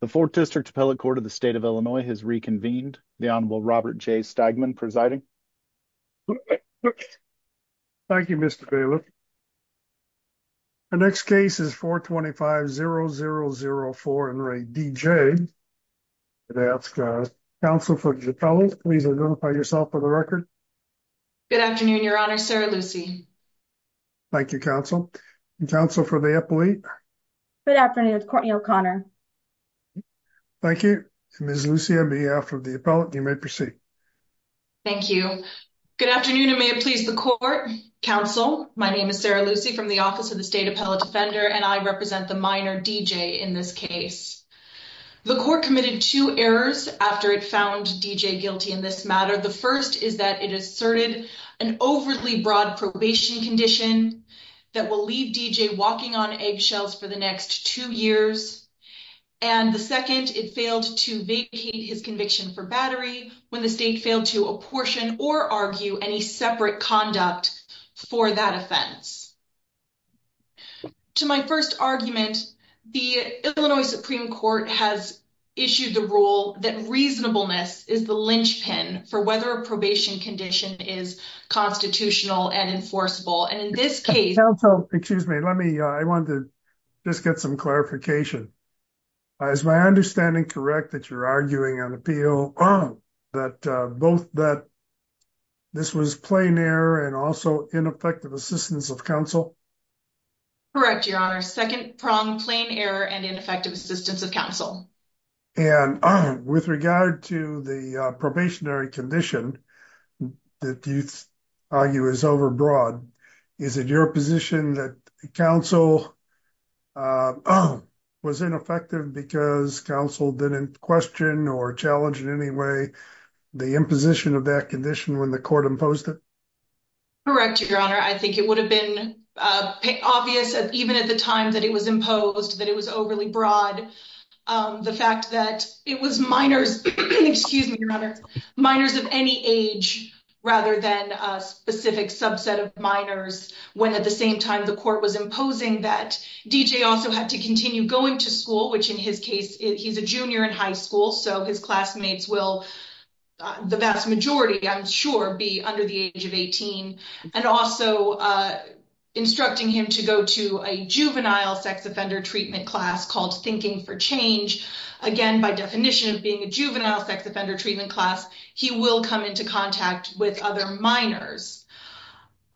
The Fourth District Appellate Court of the State of Illinois has reconvened. The Honorable Robert J. Stagman presiding. Thank you, Mr. Bailiff. The next case is 425-0004, in rank D.J. I'd ask counsel for the appellate, please identify yourself for the record. Good afternoon, your honor, sir, Lucy. Thank you, counsel. And counsel for the appellate. Good afternoon, Courtney O'Connor. Thank you. Ms. Lucy, on behalf of the appellate, you may proceed. Thank you. Good afternoon, and may it please the court. Counsel, my name is Sarah Lucy from the Office of the State Appellate Defender, and I represent the minor D.J. in this case. The court committed two errors after it found D.J. guilty in this matter. The first is that it asserted an overly broad probation condition that will leave D.J. walking on eggshells for the next two years. And the second, it failed to vacate his conviction for battery when the state failed to apportion or argue any separate conduct for that offense. To my first argument, the Illinois Supreme Court has issued the rule that reasonableness is the linchpin for whether a probation condition is constitutional and enforceable. Counsel, excuse me. Let me, I wanted to just get some clarification. Is my understanding correct that you're arguing on appeal that both that this was plain error and also ineffective assistance of counsel? Correct, Your Honor. Second prong, plain error and ineffective assistance of counsel. And with regard to the probationary condition that you argue is overbroad, is it your position that counsel was ineffective because counsel didn't question or challenge in any way the imposition of that condition when the court imposed it? Correct, Your Honor. I think it would have been obvious, even at the time that it was imposed, that it was overly broad. The fact that it was minors, excuse me, Your Honor, minors of any age, rather than a specific subset of minors, when at the same time the court was imposing that D.J. also had to continue going to school, which in his case, he's a junior in high school, so his classmates will, the vast majority, I'm sure, be under the age of 18. And also instructing him to go to a juvenile sex offender treatment class called Thinking for Change. Again, by definition of being a juvenile sex offender treatment class, he will come into contact with other minors.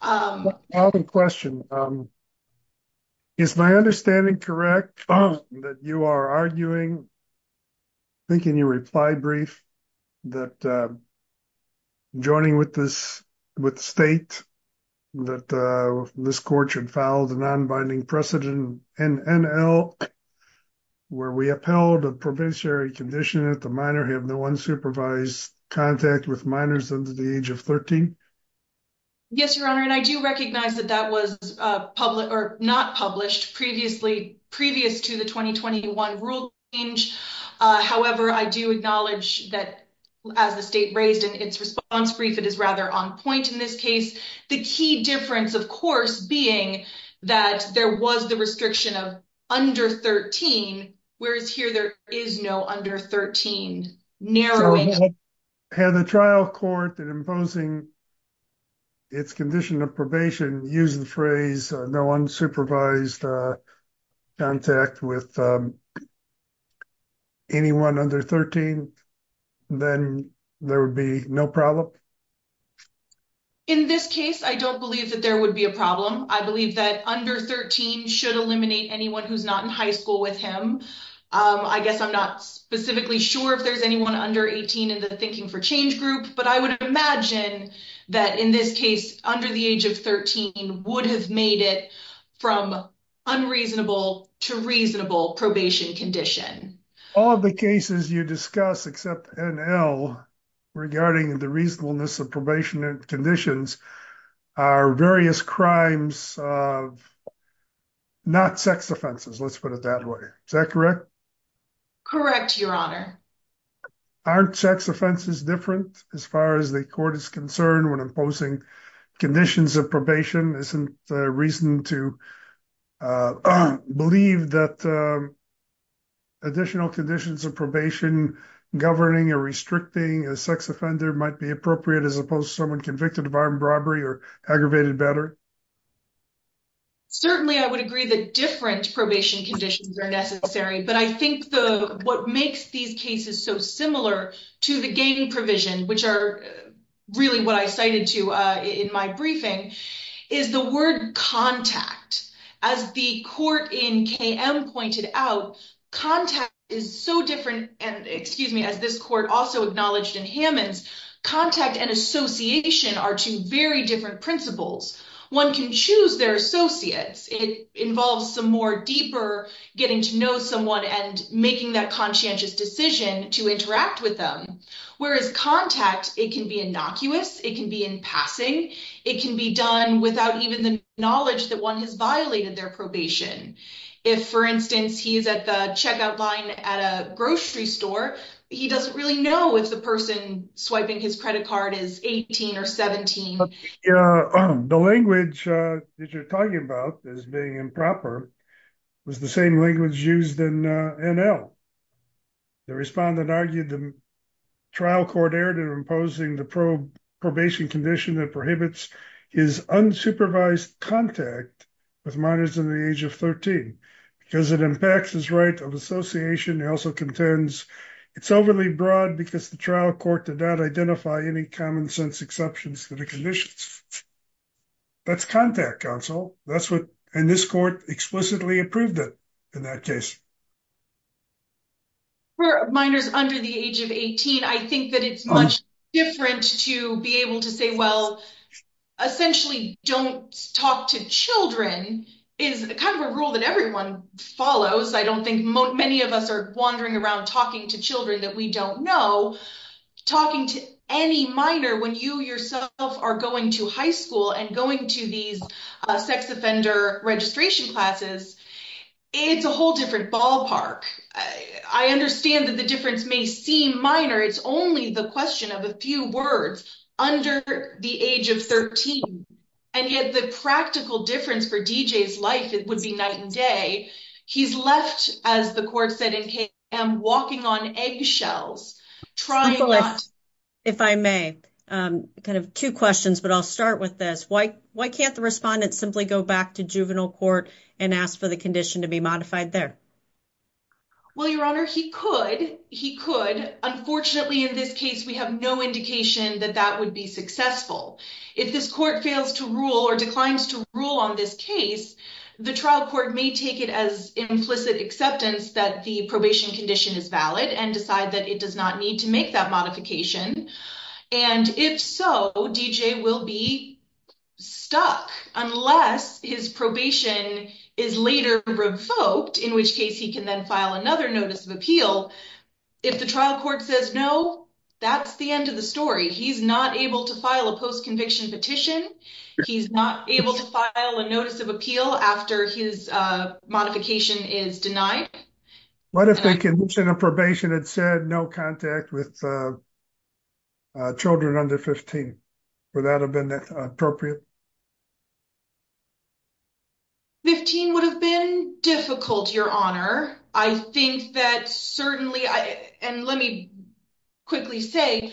I have a question. Is my understanding correct that you are arguing, I think in your reply brief, that joining with the state that this court should file the non-binding precedent, NNL, where we upheld a provincial condition that the minor have no unsupervised contact with minors under the age of 13? Yes, Your Honor, and I do recognize that that was not published previously, previous to the 2021 rule change. However, I do acknowledge that as the state raised in its response brief, it is rather on point in this case. The key difference, of course, being that there was the restriction of under 13, whereas here there is no under 13 narrowing. Had the trial court, in imposing its condition of probation, used the phrase no unsupervised contact with anyone under 13, then there would be no problem? In this case, I don't believe that there would be a problem. I believe that under 13 should eliminate anyone who's not in high school with him. I guess I'm not specifically sure if there's anyone under 18 in the thinking for change group, but I would imagine that in this case, under the age of 13, would have made it from unreasonable to reasonable probation condition. All of the cases you discuss, except NL, regarding the reasonableness of probation conditions, are various crimes of not sex offenses. Let's put it that way. Is that correct? Correct, Your Honor. Aren't sex offenses different as far as the court is concerned when imposing conditions of probation? Isn't the reason to believe that additional conditions of probation, governing or restricting a sex offender might be appropriate as opposed to someone convicted of armed robbery or aggravated battery? Certainly, I would agree that different probation conditions are necessary, but I think what makes these cases so similar to the gang provision, which are really what I cited to in my briefing, is the word contact. As the court in KM pointed out, contact is so different. As this court also acknowledged in Hammonds, contact and association are two very different principles. One can choose their associates. It involves some more deeper getting to know someone and making that conscientious decision to interact with them. Whereas contact, it can be innocuous. It can be in passing. It can be done without even the knowledge that one has violated their probation. If, for instance, he's at the checkout line at a grocery store, he doesn't really know if the person swiping his credit card is 18 or 17. The language that you're talking about as being improper was the same language used in NL. The respondent argued the trial court erred in imposing the probation condition that prohibits his unsupervised contact with minors in the age of 13 because it impacts his right of association. He also contends it's overly broad because the trial court did not identify any common sense exceptions to the conditions. That's contact, counsel. That's what, and this court explicitly approved it in that case. For minors under the age of 18, I think that it's much different to be able to say, well, essentially don't talk to children is kind of a rule that everyone follows. I don't think many of us are wandering around talking to children that we don't know. Talking to any minor when you yourself are going to high school and going to these sex offender registration classes, it's a whole different ballpark. I understand that the difference may seem minor. It's only the question of a few words under the age of 13. And yet the practical difference for DJ's life, it would be night and day. He's left, as the court said in KM, walking on eggshells. If I may, kind of two questions, but I'll start with this. Why can't the respondent simply go back to juvenile court and ask for the condition to be modified there? Well, Your Honor, he could. Unfortunately, in this case, we have no indication that that would be successful. If this court fails to rule or declines to rule on this case, the trial court may take it as implicit acceptance that the probation condition is valid and decide that it does not need to make that modification. And if so, DJ will be stuck unless his probation is later revoked, in which case he can then file another notice of appeal. If the trial court says no, that's the end of the story. He's not able to file a post-conviction petition. He's not able to file a notice of appeal after his modification is denied. What if the condition of probation had said no contact with children under 15? Would that have been appropriate? 15 would have been difficult, Your Honor. I think that certainly, and let me quickly say,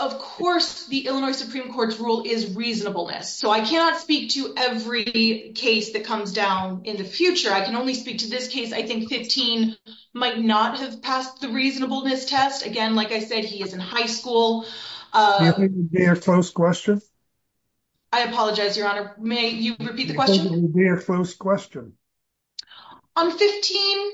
of course, the Illinois Supreme Court's rule is reasonableness. So I cannot speak to every case that comes down in the future. I can only speak to this case. I think 15 might not have passed the reasonableness test. Again, like I said, he is in high school. Do you think it would be a close question? I apologize, Your Honor. May you repeat the question? On 15,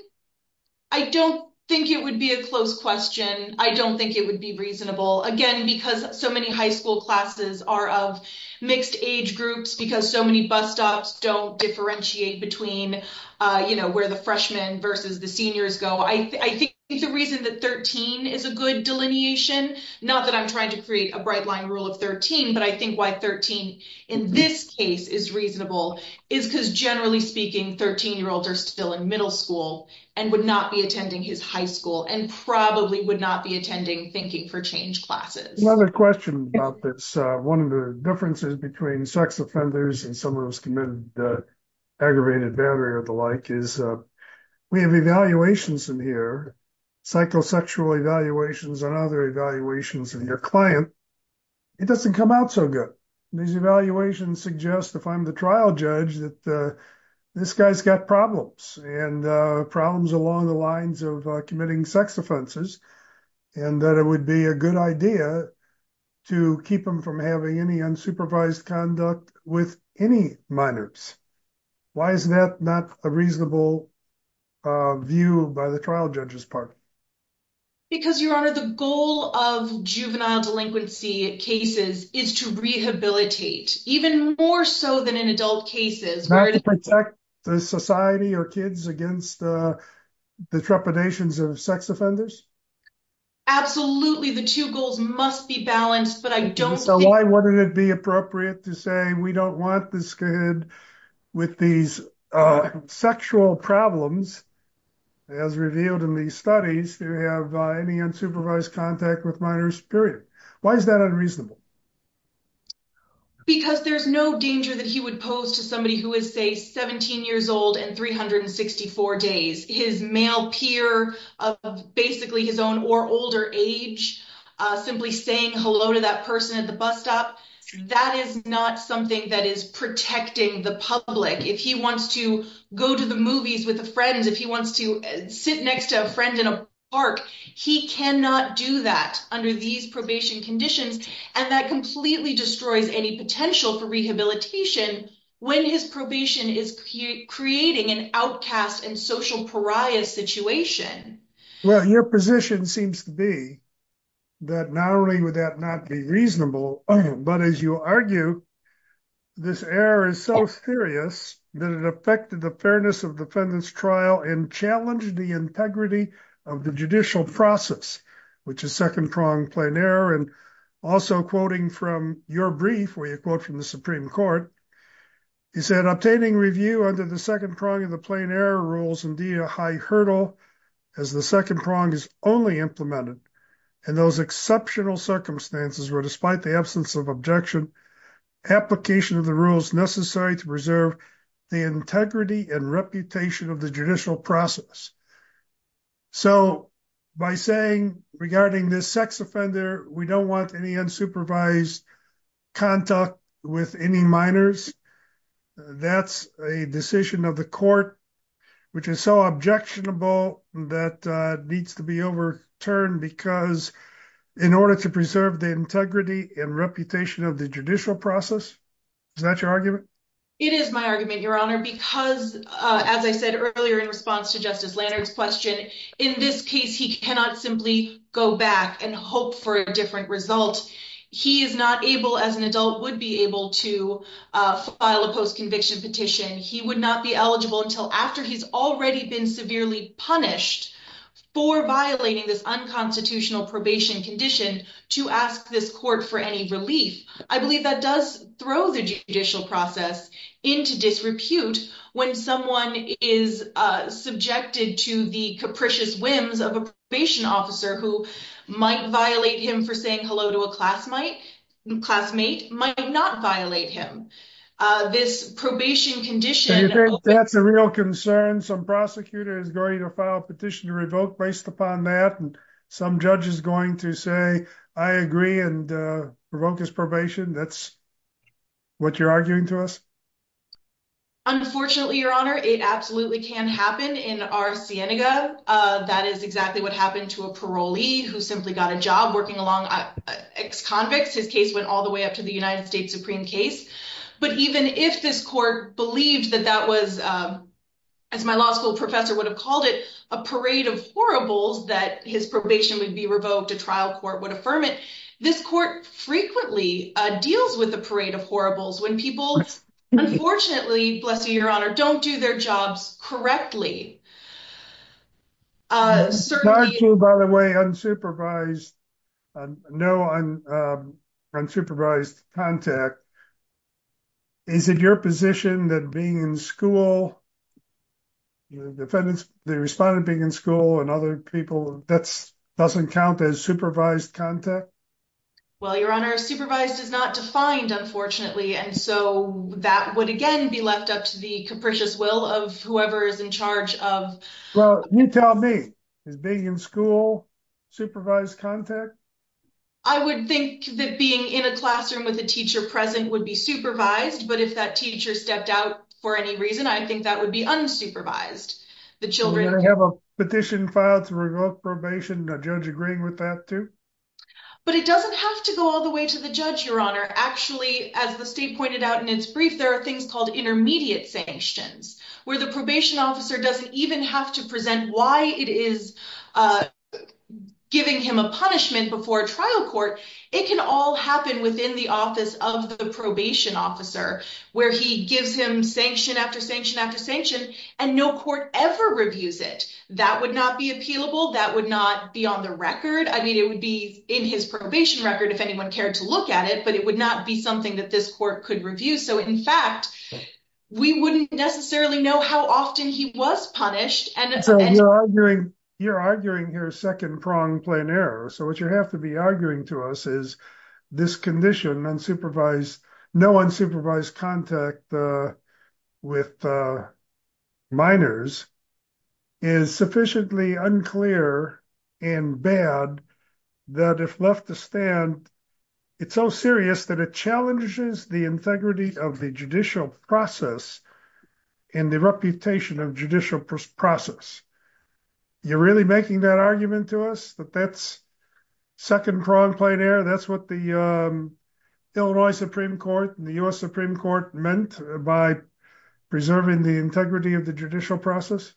I don't think it would be a close question. I don't think it would be reasonable. Again, because so many high school classes are of mixed age groups, because so many bus stops don't differentiate between, you know, where the freshmen versus the seniors go. I think the reason that 13 is a good delineation, not that I'm trying to create a bright line rule of 13, but I think why 13 in this case is reasonable is because generally speaking, 13-year-olds are still in middle school and would not be attending his high school and probably would not be attending thinking for change classes. Another question about this. One of the differences between sex offenders and someone who's committed aggravated battery or the like is we have evaluations in here, psychosexual evaluations and other evaluations of your client. It doesn't come out so good. These evaluations suggest if I'm the trial judge that this guy's got problems and problems along the lines of committing sex offenses and that it would be a good idea to keep them from having any unsupervised conduct with any minors. Why is that not a reasonable view by the trial judge's part? Because, Your Honor, the goal of juvenile delinquency cases is to rehabilitate even more so than in adult cases. Not to protect the society or kids against the trepidations of sex offenders? Absolutely. The two goals must be balanced, but I don't think- So why wouldn't it be appropriate to say we don't want this kid with these sexual problems as revealed in these studies to have any unsupervised contact with minors, period? Why is that unreasonable? Because there's no danger that he would pose to somebody who is, say, 17 years old and 364 days. His male peer of basically his own or older age simply saying hello to that person at the bus stop, that is not something that is protecting the public. If he wants to go to the movies with a friend, if he wants to sit next to a friend in a park, he cannot do that under these probation conditions. And that completely destroys any potential for rehabilitation when his probation is creating an outcast and social pariah situation. Well, your position seems to be that not only would that not be reasonable, but as you argue, this error is so serious that it affected the fairness of defendant's trial and challenged the integrity of the judicial process, which is second-pronged plain error. And also quoting from your brief, where you quote from the Supreme Court, you said, obtaining review under the second prong of the plain error rules, indeed a high hurdle as the second prong is only implemented in those exceptional circumstances where despite the absence of objection, application of the rules necessary to preserve the integrity and reputation of the judicial process. So by saying regarding this sex offender, we don't want any unsupervised contact with any minors, that's a decision of the court, which is so objectionable that needs to be overturned because in order to preserve the integrity and reputation of the judicial process, is that your argument? It is my argument, Your Honor, because as I said earlier, in response to Justice Lannert's question, in this case, he cannot simply go back and hope for a different result. He is not able as an adult would be able to file a post-conviction petition. He would not be eligible until after he's already been severely punished for violating this unconstitutional probation condition to ask this court for any relief. I believe that does throw the judicial process into disrepute when someone is subjected to the capricious whims of a probation officer who might violate him for saying hello to a classmate, might not violate him. This probation condition- Do you think that's a real concern? Some prosecutor is going to file a petition to revoke based upon that, and some judge is going to say, I agree and revoke his probation. That's what you're arguing to us? Unfortunately, Your Honor, it absolutely can happen in our Cienega. That is exactly what happened to a parolee who simply got a job working along ex-convicts. His case went all the way up to the United States Supreme case. But even if this court believed that that was, as my law school professor would have called it, a parade of horribles, that his probation would be revoked, a trial court would affirm it. This court frequently deals with a parade of horribles when people, unfortunately, bless you, Your Honor, don't do their jobs correctly. It's not true, by the way, unsupervised. No unsupervised contact. Is it your position that being in school, the defendant being in school and other people, that doesn't count as supervised contact? Well, Your Honor, supervised is not defined, unfortunately, and so that would, again, be left up to the capricious will of whoever is in charge of- Well, you tell me. Is being in school supervised contact? I would think that being in a classroom with a teacher present would be supervised, but if that teacher stepped out for any reason, I think that would be unsupervised. The children- Would they have a petition filed to revoke probation, and a judge agreeing with that, too? But it doesn't have to go all the way to the judge, Your Honor. Actually, as the state pointed out in its brief, there are things called intermediate sanctions, where the probation officer doesn't even have to present why it is giving him a punishment before a trial court. It can all happen within the office of the probation officer, where he gives him sanction after sanction after sanction, and no court ever reviews it. That would not be appealable. That would not be on the record. I mean, it would be in his probation record if anyone cared to look at it, but it would not be something that this court could review. So, in fact, we wouldn't necessarily know how often he was punished. So, you're arguing here second-pronged, plain error. So, what you have to be arguing to us is this condition, no unsupervised contact with minors is sufficiently unclear and bad that if left to stand, it's so serious that it challenges the integrity of the judicial process and the reputation of judicial process. You're really making that argument to us that that's second-pronged, plain error? That's what the Illinois Supreme Court and the U.S. Supreme Court meant by preserving the integrity of the judicial process?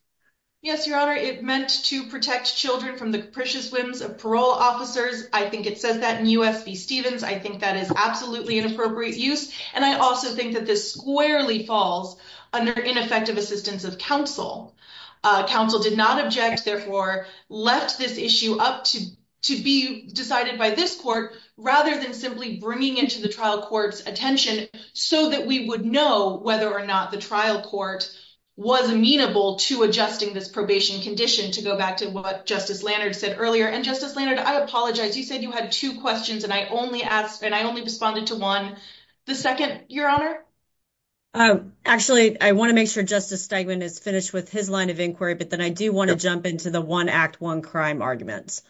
Yes, Your Honor. It meant to protect children from the capricious whims of parole officers. I think it says that in U.S. v. Stevens. I think that is absolutely inappropriate use. And I also think that this squarely falls under ineffective assistance of counsel. Counsel did not object, therefore left this issue up to be decided by this court rather than simply bringing it to the trial court's attention so that we would know whether or not the trial court was amenable to adjusting this probation condition, to go back to what Justice Lanard said earlier. And Justice Lanard, I apologize. You said you had two questions and I only asked, and I only responded to one. The second, Your Honor? Actually, I want to make sure Justice Stegman is finished with his line of inquiry, but then I do want to jump into the one act, one crime arguments.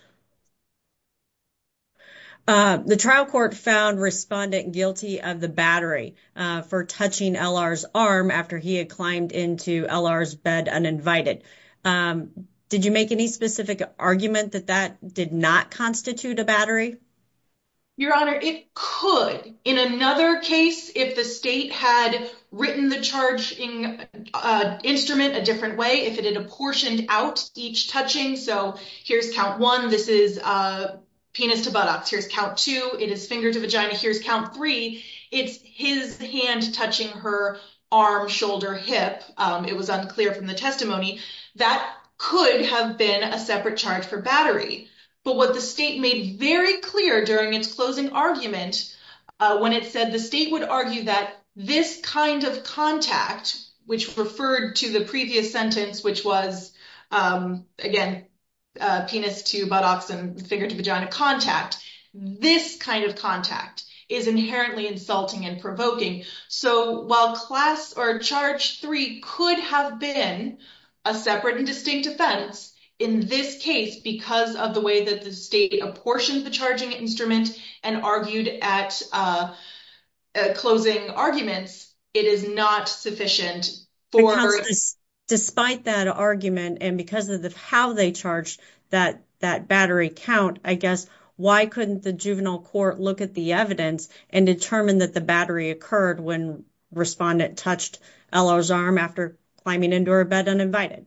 The trial court found respondent guilty of the battery for touching L.R.'s arm after he had climbed into L.R.'s bed uninvited. Did you make any specific argument that that did not constitute a battery? Your Honor, it could. In another case, if the state had written the charging instrument a different way, if it had apportioned out each touching, so here's count one, this is penis to buttocks. Here's count two, it is finger to vagina. Here's count three. It's his hand touching her arm, shoulder, hip. It was unclear from the testimony. That could have been a separate charge for battery. But what the state made very clear during its closing argument, when it said the state would argue that this kind of contact, which referred to the previous sentence, which was, again, penis to buttocks and finger to vagina contact, this kind of contact is inherently insulting and provoking. So while class or charge three could have been a separate and distinct offense, in this case, because of the way that the state apportioned the charging instrument and argued at closing arguments, it is not sufficient for- Because despite that argument and because of how they charged that battery count, I guess, why couldn't the juvenile court look at the evidence and determine that the battery occurred when respondent touched Ella's arm after climbing into her bed uninvited?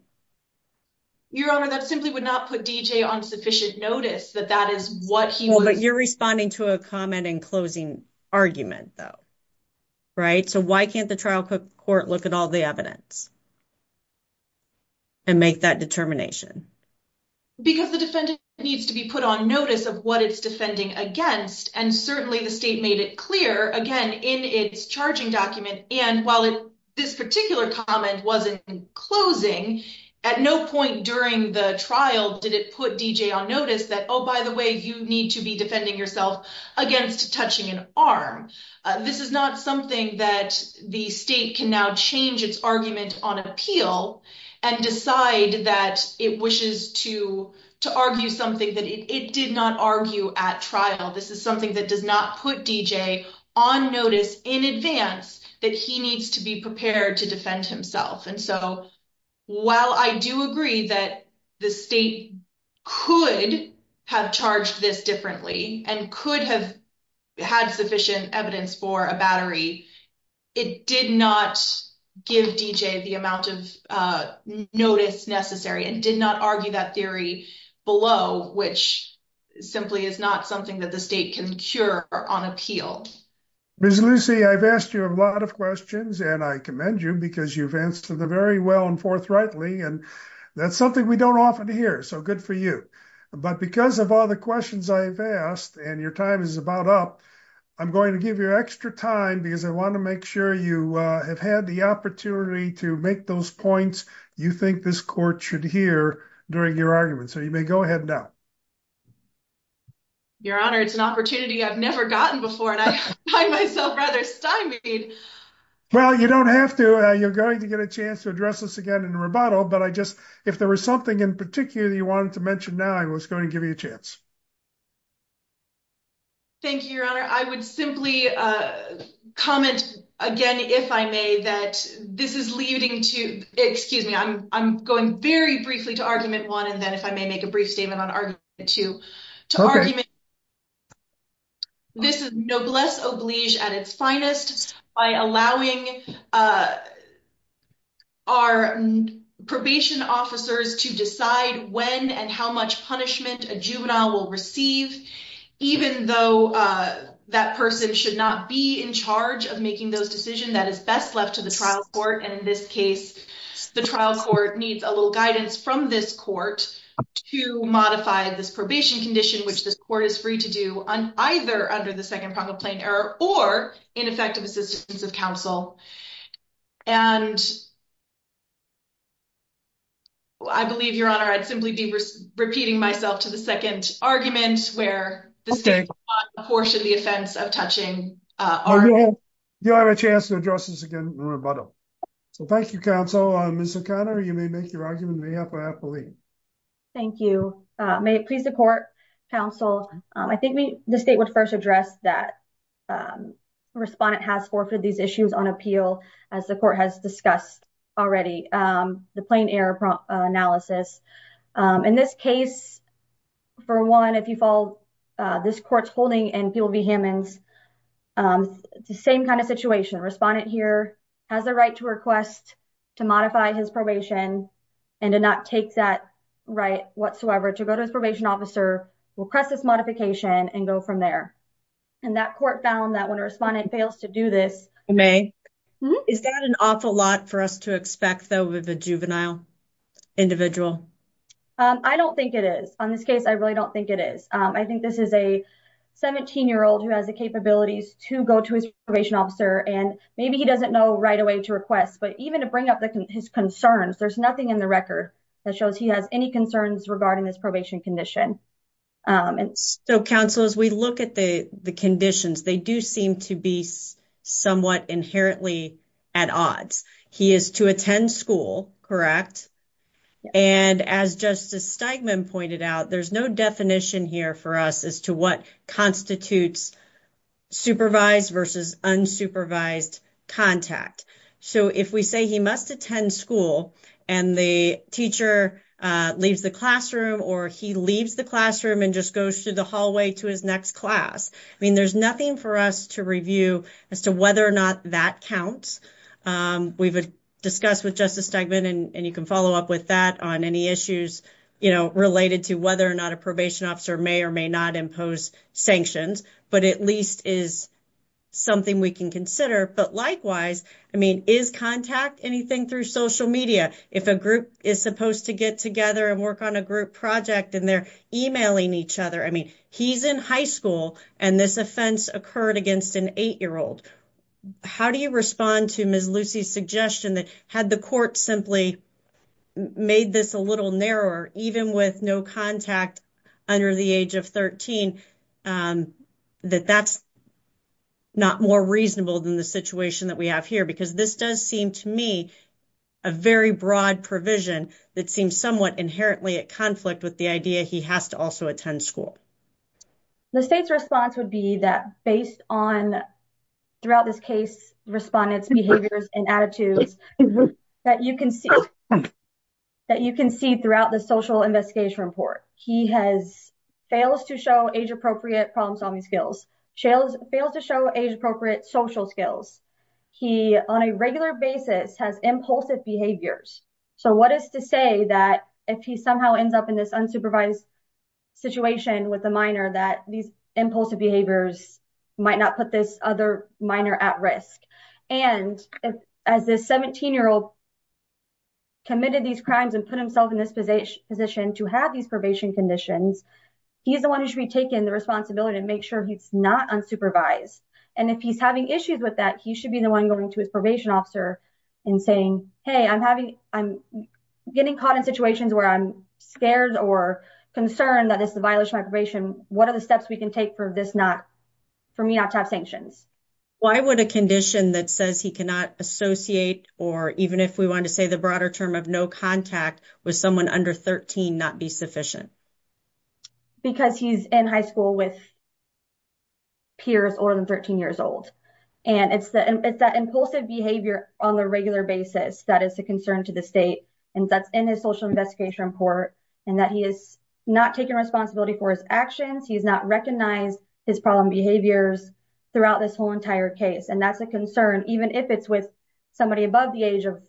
Your Honor, that simply would not put D.J. on sufficient notice that that is what he was- Well, but you're responding to a comment in closing argument though, right? So why can't the trial court look at all the evidence and make that determination? Because the defendant needs to be put on notice of what it's defending against. And certainly the state made it clear, again, in its charging document. And while this particular comment wasn't closing, at no point during the trial did it put D.J. on notice that, oh, by the way, you need to be defending yourself against touching an arm. This is not something that the state can now change its argument on appeal and decide that it wishes to argue something that it did not argue at trial. This is something that does not put D.J. on notice in advance that he needs to be prepared to defend himself. And so while I do agree that the state could have charged this differently and could have had sufficient evidence for a battery, it did not give D.J. the amount of notice necessary and did not argue that theory below, which simply is not something that the state can cure on appeal. Ms. Lucey, I've asked you a lot of questions and I commend you because you've answered them very well and forthrightly. And that's something we don't often hear, so good for you. But because of all the questions I've asked and your time is about up, I'm going to give you extra time because I want to make sure you have had the opportunity to make those points you think this court should hear during your argument. So you may go ahead now. Your Honor, it's an opportunity I've never gotten before and I find myself rather stymied. Well, you don't have to. You're going to get a chance to address this again in rebuttal, but I just, if there was something in particular that you wanted to mention now, I was going to give you a chance. Thank you, Your Honor. I would simply comment again, if I may, that this is leading to, excuse me, I'm going very briefly to argument one and then if I may make a brief statement to argument two. This is noblesse oblige at its finest by allowing our probation officers to decide when and how much punishment a juvenile will receive, even though that person should not be in charge of making those decisions, that is best left to the trial court. And in this case, the trial court needs a little guidance from this court to modify this probation condition, which this court is free to do on either under the second prong of plain error or ineffective assistance of counsel. And I believe, Your Honor, I'd simply be repeating myself to the second argument where this is not a portion of the offense of touching our- Well, you'll have a chance to address this again in rebuttal. So thank you, counsel. Ms. O'Connor, you may make your argument. May I have my appellee? Thank you. May it please the court, counsel. I think the state would first address that the respondent has forfeited these issues on appeal as the court has discussed already, the plain error analysis. In this case, for one, if you follow, this court's holding in Peel v. Hammonds, the same kind of situation. Respondent here has the right to request to modify his probation and to not take that right whatsoever, to go to his probation officer, request this modification and go from there. And that court found that when a respondent fails to do this- May, is that an awful lot for us to expect, though, with a juvenile individual? I don't think it is. On this case, I really don't think it is. I think this is a 17-year-old who has the capabilities to go to his probation officer and maybe he doesn't know right away to request, but even to bring up his concerns, there's nothing in the record that shows he has any concerns regarding this probation condition. And so, counsel, as we look at the conditions, they do seem to be somewhat inherently at odds. He is to attend school, correct? And as Justice Steigman pointed out, there's no definition here for us as to what constitutes supervised versus unsupervised contact. So if we say he must attend school and the teacher leaves the classroom or he leaves the classroom and just goes through the hallway to his next class, I mean, there's nothing for us to review as to whether or not that counts. We've discussed with Justice Steigman, and you can follow up with that on any issues, related to whether or not a probation officer may or may not impose sanctions, but at least is something we can consider. But likewise, I mean, is contact anything through social media? If a group is supposed to get together and work on a group project and they're emailing each other, I mean, he's in high school and this offense occurred against an eight-year-old. How do you respond to Ms. Lucy's suggestion that had the court simply made this a little narrower, even with no contact under the age of 13, that that's not more reasonable than the situation that we have here? Because this does seem to me a very broad provision that seems somewhat inherently at conflict with the idea he has to also attend school. The state's response would be that based on throughout this case, respondents' behaviors and attitudes that you can see throughout the social investigation report. He fails to show age-appropriate problem-solving skills, fails to show age-appropriate social skills. He on a regular basis has impulsive behaviors. So what is to say that if he somehow ends up in this unsupervised situation with a minor that these impulsive behaviors might not put this other minor at risk? And as this 17-year-old committed these crimes and put himself in this position to have these probation conditions, he's the one who should be taking the responsibility to make sure he's not unsupervised. And if he's having issues with that, he should be the one going to his probation officer and saying, hey, I'm getting caught in situations where I'm scared or concerned that this is a violation of my probation. What are the steps we can take for me not to have sanctions? Why would a condition that says he cannot associate, or even if we want to say the broader term of no contact with someone under 13, not be sufficient? Because he's in high school with peers older than 13 years old. And it's that impulsive behavior on a regular basis that is a concern to the state. And that's in his social investigation report and that he is not taking responsibility for his actions. He's not recognized his problem behaviors throughout this whole entire case. And that's a concern, even if it's with somebody above the age of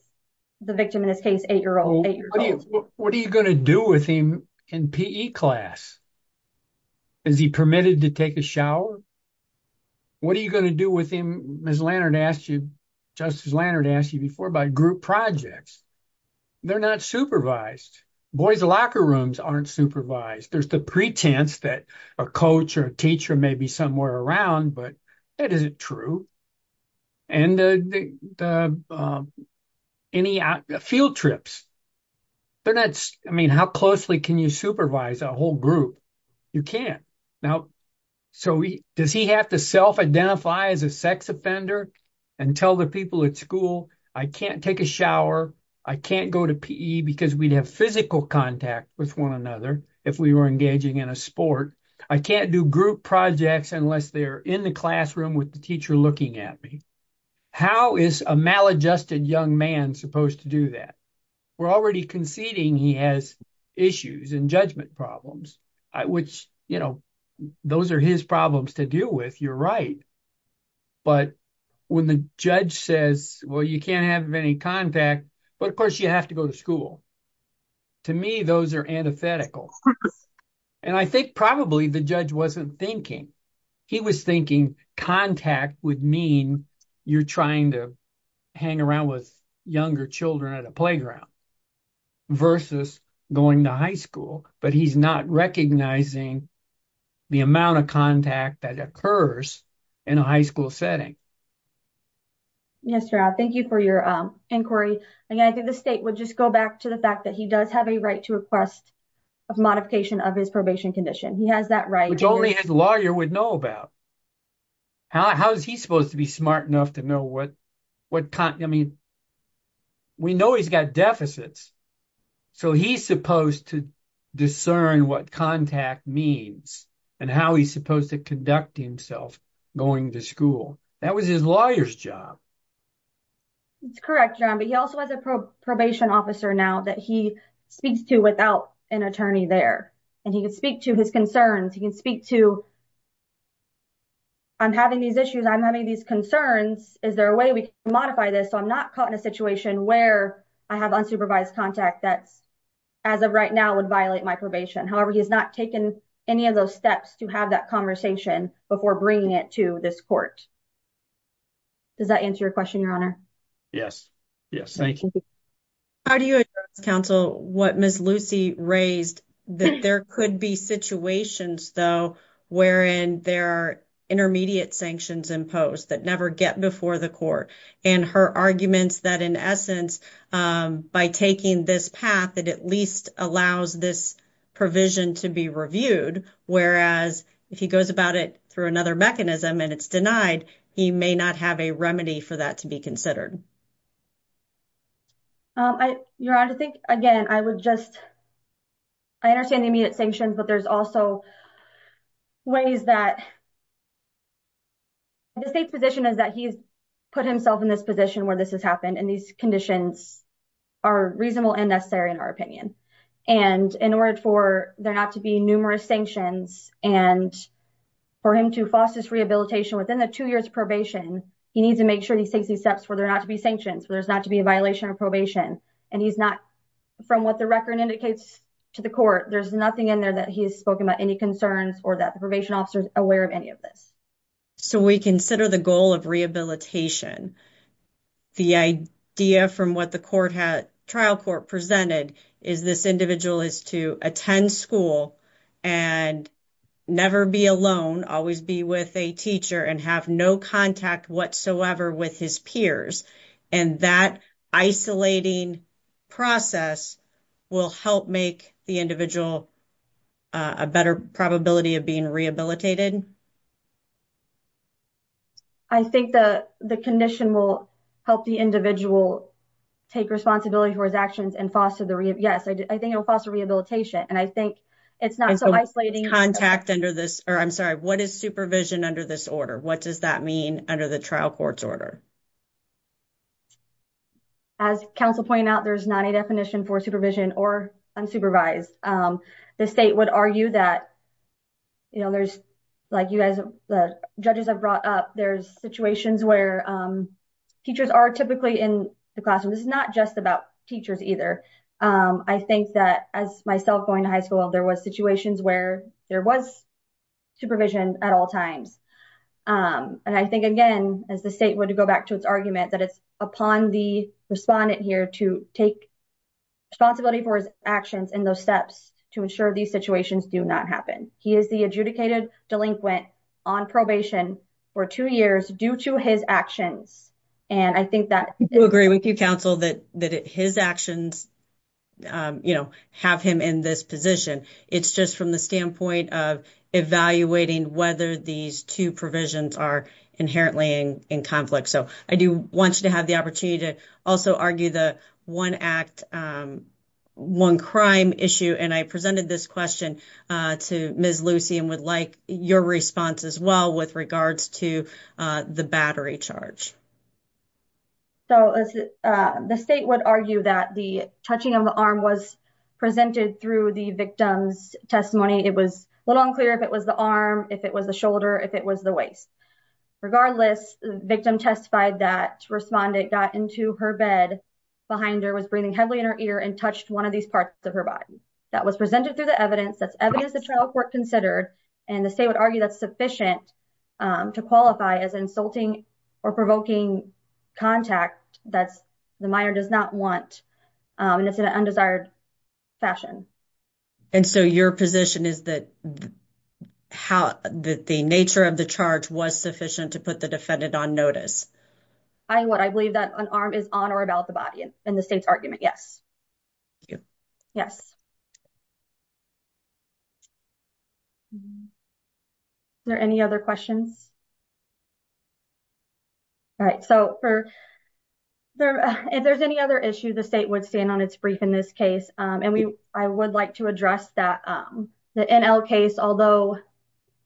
the victim, in this case, eight-year-old. What are you going to do with him in PE class? Is he permitted to take a shower? What are you going to do with him? Ms. Lannert asked you, Justice Lannert asked you before by group projects. They're not supervised. Boys locker rooms aren't supervised. There's the pretense that a coach or a teacher may be somewhere around, but that isn't true. And any field trips, they're not... I mean, how closely can you supervise a whole group? You can't. Now, so does he have to self-identify as a sex offender and tell the people at school, I can't take a shower. I can't go to PE because we'd have physical contact with one another if we were engaging in a sport. I can't do group projects unless they're in the classroom with the teacher looking at me. How is a maladjusted young man supposed to do that? We're already conceding he has issues and judgment problems, which, you know, those are his problems to deal with. You're right. But when the judge says, well, you can't have any contact, but of course you have to go to school. To me, those are antithetical. And I think probably the judge wasn't thinking. He was thinking contact would mean you're trying to hang around with younger children at a playground versus going to high school. But he's not recognizing the amount of contact that occurs in a high school setting. Yes, Rob, thank you for your inquiry. And I think the state would just go back to the fact that he does have a right to request a modification of his probation condition. He has that right. Which only his lawyer would know about. How is he supposed to be smart enough to know what... I mean, we know he's got deficits. So he's supposed to discern what contact means and how he's supposed to conduct himself going to school. That was his lawyer's job. That's correct, John. But he also has a probation officer now that he speaks to without an attorney there. And he can speak to his concerns. He can speak to, I'm having these issues. I'm having these concerns. Is there a way we can modify this so I'm not caught in a situation where I have unsupervised contact that as of right now would violate my probation? However, he has not taken any of those steps to have that conversation before bringing it to this court. Does that answer your question, Your Honor? Yes, yes. Thank you. How do you counsel what Ms. Lucy raised that there could be situations though wherein there are intermediate sanctions imposed that never get before the court? And her arguments that in essence, by taking this path, it at least allows this provision to be reviewed. Whereas if he goes about it through another mechanism and it's denied, he may not have a remedy for that to be considered. Your Honor, I think, again, I would just... I understand the immediate sanctions, but there's also ways that... The state's position is that he's put himself in this position where this has happened. And these conditions are reasonable and necessary in our opinion. And in order for there not to be numerous sanctions and for him to foster this rehabilitation within the two years probation, he needs to make sure he takes these steps for there not to be sanctions, for there's not to be a violation of probation. And he's not... From what the record indicates to the court, there's nothing in there that he has spoken about any concerns or that the probation officer is aware of any of this. So we consider the goal of rehabilitation. The idea from what the trial court presented is this individual is to attend school and never be alone, always be with a teacher and have no contact whatsoever with his peers. And that isolating process will help make the individual a better probability of being rehabilitated? I think the condition will help the individual take responsibility for his actions and foster the... Yes, I think it will foster rehabilitation. And I think it's not so isolating... Contact under this... Or I'm sorry, what is supervision under this order? What does that mean under the trial court's order? As counsel pointed out, there's not a definition for supervision or unsupervised. The state would argue that there's... Like you guys, the judges have brought up, there's situations where teachers are typically in the classroom. This is not just about teachers either. I think that as myself going to high school, there was situations where there was supervision at all times. And I think, again, as the state would go back to its argument, it's upon the respondent here to take responsibility for his actions and those steps to ensure these situations do not happen. He is the adjudicated delinquent on probation for two years due to his actions. And I think that... We agree with you, counsel, that his actions have him in this position. It's just from the standpoint of evaluating whether these two provisions are inherently in conflict. So I do want you to have the opportunity to also argue the one act, one crime issue. And I presented this question to Ms. Lucy and would like your response as well with regards to the battery charge. So the state would argue that the touching of the arm was presented through the victim's testimony. It was a little unclear if it was the arm, if it was the shoulder, if it was the waist. Regardless, the victim testified that the respondent got into her bed behind her, was breathing heavily in her ear and touched one of these parts of her body. That was presented through the evidence. That's evidence the trial court considered and the state would argue that's sufficient to qualify as insulting or provoking contact that the minor does not want and it's in an undesired fashion. And so your position is that how the nature of the charge was sufficient to put the defendant on notice? I would. I believe that an arm is on or about the body in the state's argument. Yes. Thank you. Yes. Is there any other questions? All right. So if there's any other issue, the state would stand on its brief in this case. And I would like to address the NL case, although it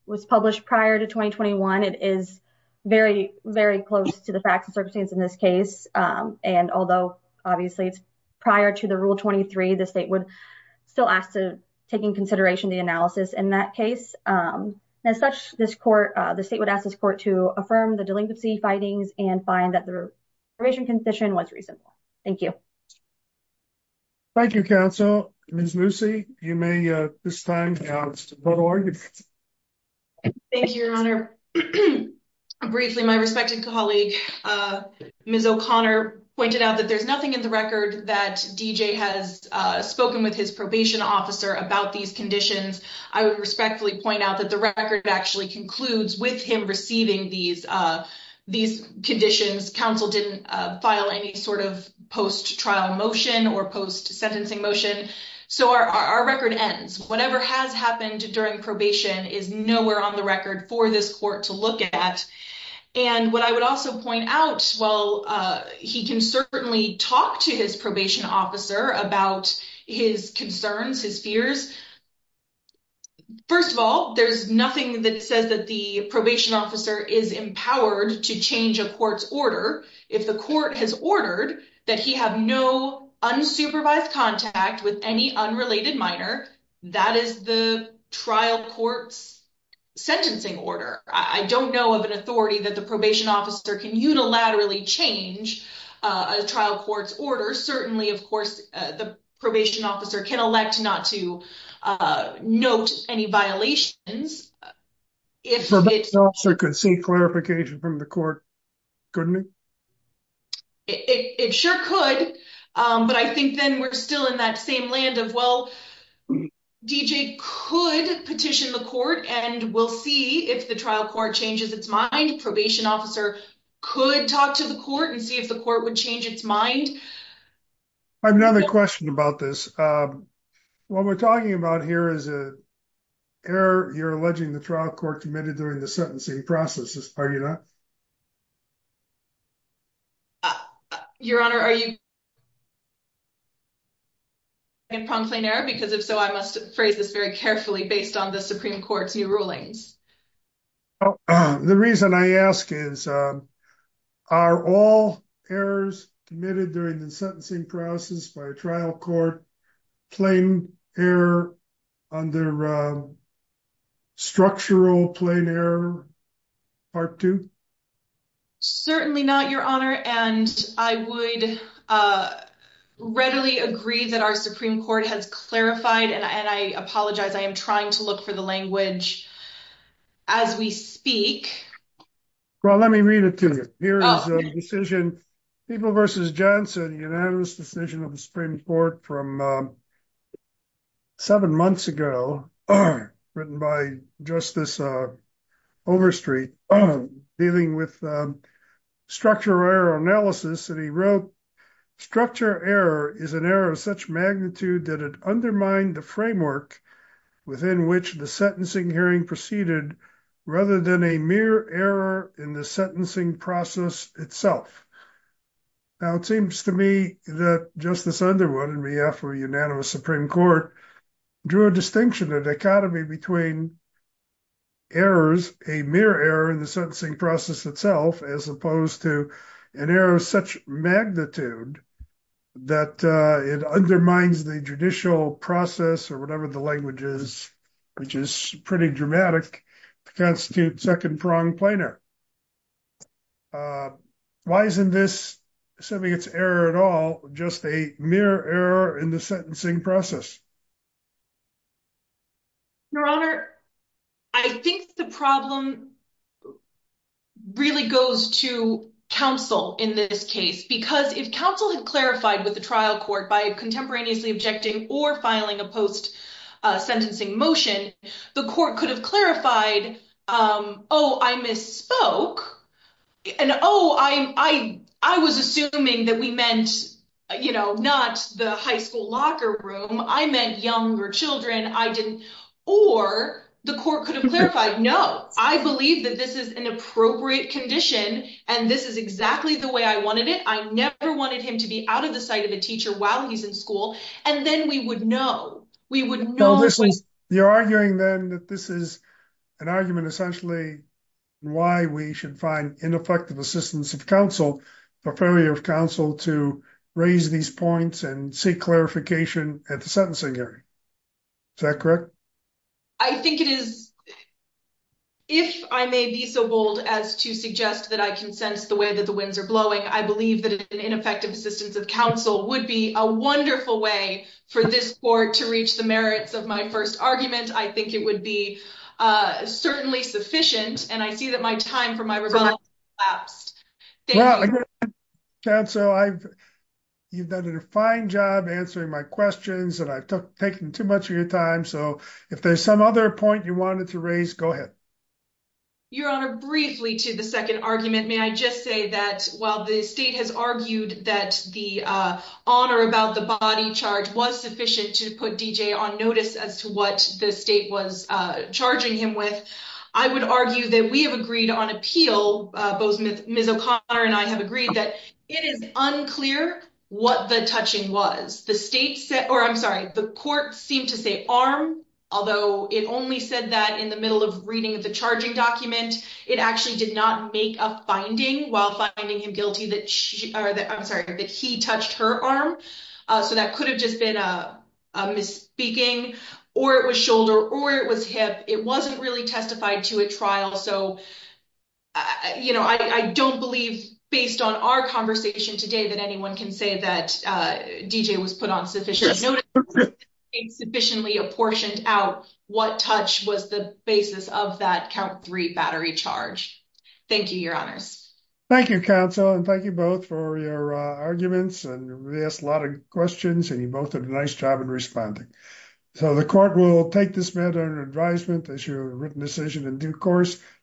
was published prior to 2021, it is very, very close to the facts and circumstances in this case. And although obviously it's prior to the rule 23, the state would still ask to taking consideration the analysis in that case. As such, this court, the state would ask this court to affirm the delinquency findings and find that the probation condition was reasonable. Thank you. Thank you, counsel. Ms. Moosey, you may this time. Thank you, your honor. Briefly, my respected colleague, Ms. O'Connor pointed out that there's nothing in the record that DJ has spoken with his probation officer about these conditions. I would respectfully point out that the record actually concludes with him receiving these conditions. Counsel didn't file any sort of post trial motion or post sentencing motion. So our record ends. Whatever has happened during probation is nowhere on the record for this court to look at. And what I would also point out, well, he can certainly talk to his probation officer about his concerns, his fears. First of all, there's nothing that says that the probation officer is empowered to change a court's order. If the court has ordered that he have no unsupervised contact with any unrelated minor, that is the trial court's sentencing order. I don't know of an authority that the probation officer can unilaterally change a trial court's order. Certainly, of course, the probation officer can elect not to note any violations. If the probation officer could see clarification from the court, couldn't he? It sure could. But I think then we're still in that same land of, well, D.J. could petition the court and we'll see if the trial court changes its mind. Probation officer could talk to the court and see if the court would change its mind. I have another question about this. What we're talking about here is a error. You're alleging the trial court committed during the sentencing processes, are you not? Your Honor, are you... ...pronged plain error? Because if so, I must phrase this very carefully based on the Supreme Court's new rulings. The reason I ask is, are all errors committed during the sentencing process by a trial court plain error under structural plain error part two? Certainly not, Your Honor. And I would readily agree that our Supreme Court has clarified, and I apologize, I am trying to look for the language as we speak. Well, let me read it to you. Here is a decision, People v. Johnson, unanimous decision of the Supreme Court from seven months ago, written by Justice Overstreet. Dealing with structural error analysis, and he wrote, structure error is an error of such magnitude that it undermined the framework within which the sentencing hearing proceeded rather than a mere error in the sentencing process itself. Now, it seems to me that Justice Underwood in behalf of a unanimous Supreme Court drew a distinction, a dichotomy between errors, a mere error in the sentencing process itself, as opposed to an error of such magnitude that it undermines the judicial process or whatever the language is, which is pretty dramatic to constitute second prong plain error. Why isn't this, assuming it's error at all, just a mere error in the sentencing process? Your Honor, I think the problem really goes to counsel in this case, because if counsel had clarified with the trial court by contemporaneously objecting or filing a post-sentencing motion, the court could have clarified, oh, I misspoke, and oh, I was assuming that we meant, not the high school locker room, I meant younger children, I didn't, or the court could have clarified, no, I believe that this is an appropriate condition and this is exactly the way I wanted it, I never wanted him to be out of the sight of a teacher while he's in school, and then we would know, we would know- No, this is, you're arguing then that this is an argument essentially why we should find ineffective assistance of counsel, for failure of counsel to raise these points and seek clarification at the sentencing area, is that correct? I think it is, if I may be so bold as to suggest that I can sense the way that the winds are blowing, I believe that an ineffective assistance of counsel would be a wonderful way for this court to reach the merits of my first argument, I think it would be certainly sufficient, and I see that my time for my rebuttal has elapsed. Thank you. Well, again, counsel, you've done a fine job answering my questions and I've taken too much of your time, so if there's some other point you wanted to raise, go ahead. Your Honor, briefly to the second argument, may I just say that while the state has argued that the honor about the body charge was sufficient to put D.J. on notice as to what the state was charging him with, I would argue that we have agreed on appeal, both Ms. O'Connor and I have agreed that it is unclear what the touching was. The court seemed to say arm, although it only said that in the middle of reading the charging document, it actually did not make a finding while finding him guilty that he touched her arm, so that could have just been a misspeaking or it was shoulder or it was hip, it wasn't really testified to a trial, so I don't believe, based on our conversation today, that anyone can say that D.J. was put on sufficient notice or was sufficiently apportioned out what touch was the basis of that count three battery charge. Thank you, Your Honors. Thank you, counsel, and thank you both for your arguments and we asked a lot of questions and you both did a nice job in responding, so the court will take this matter under advisement as you have written this session and due course.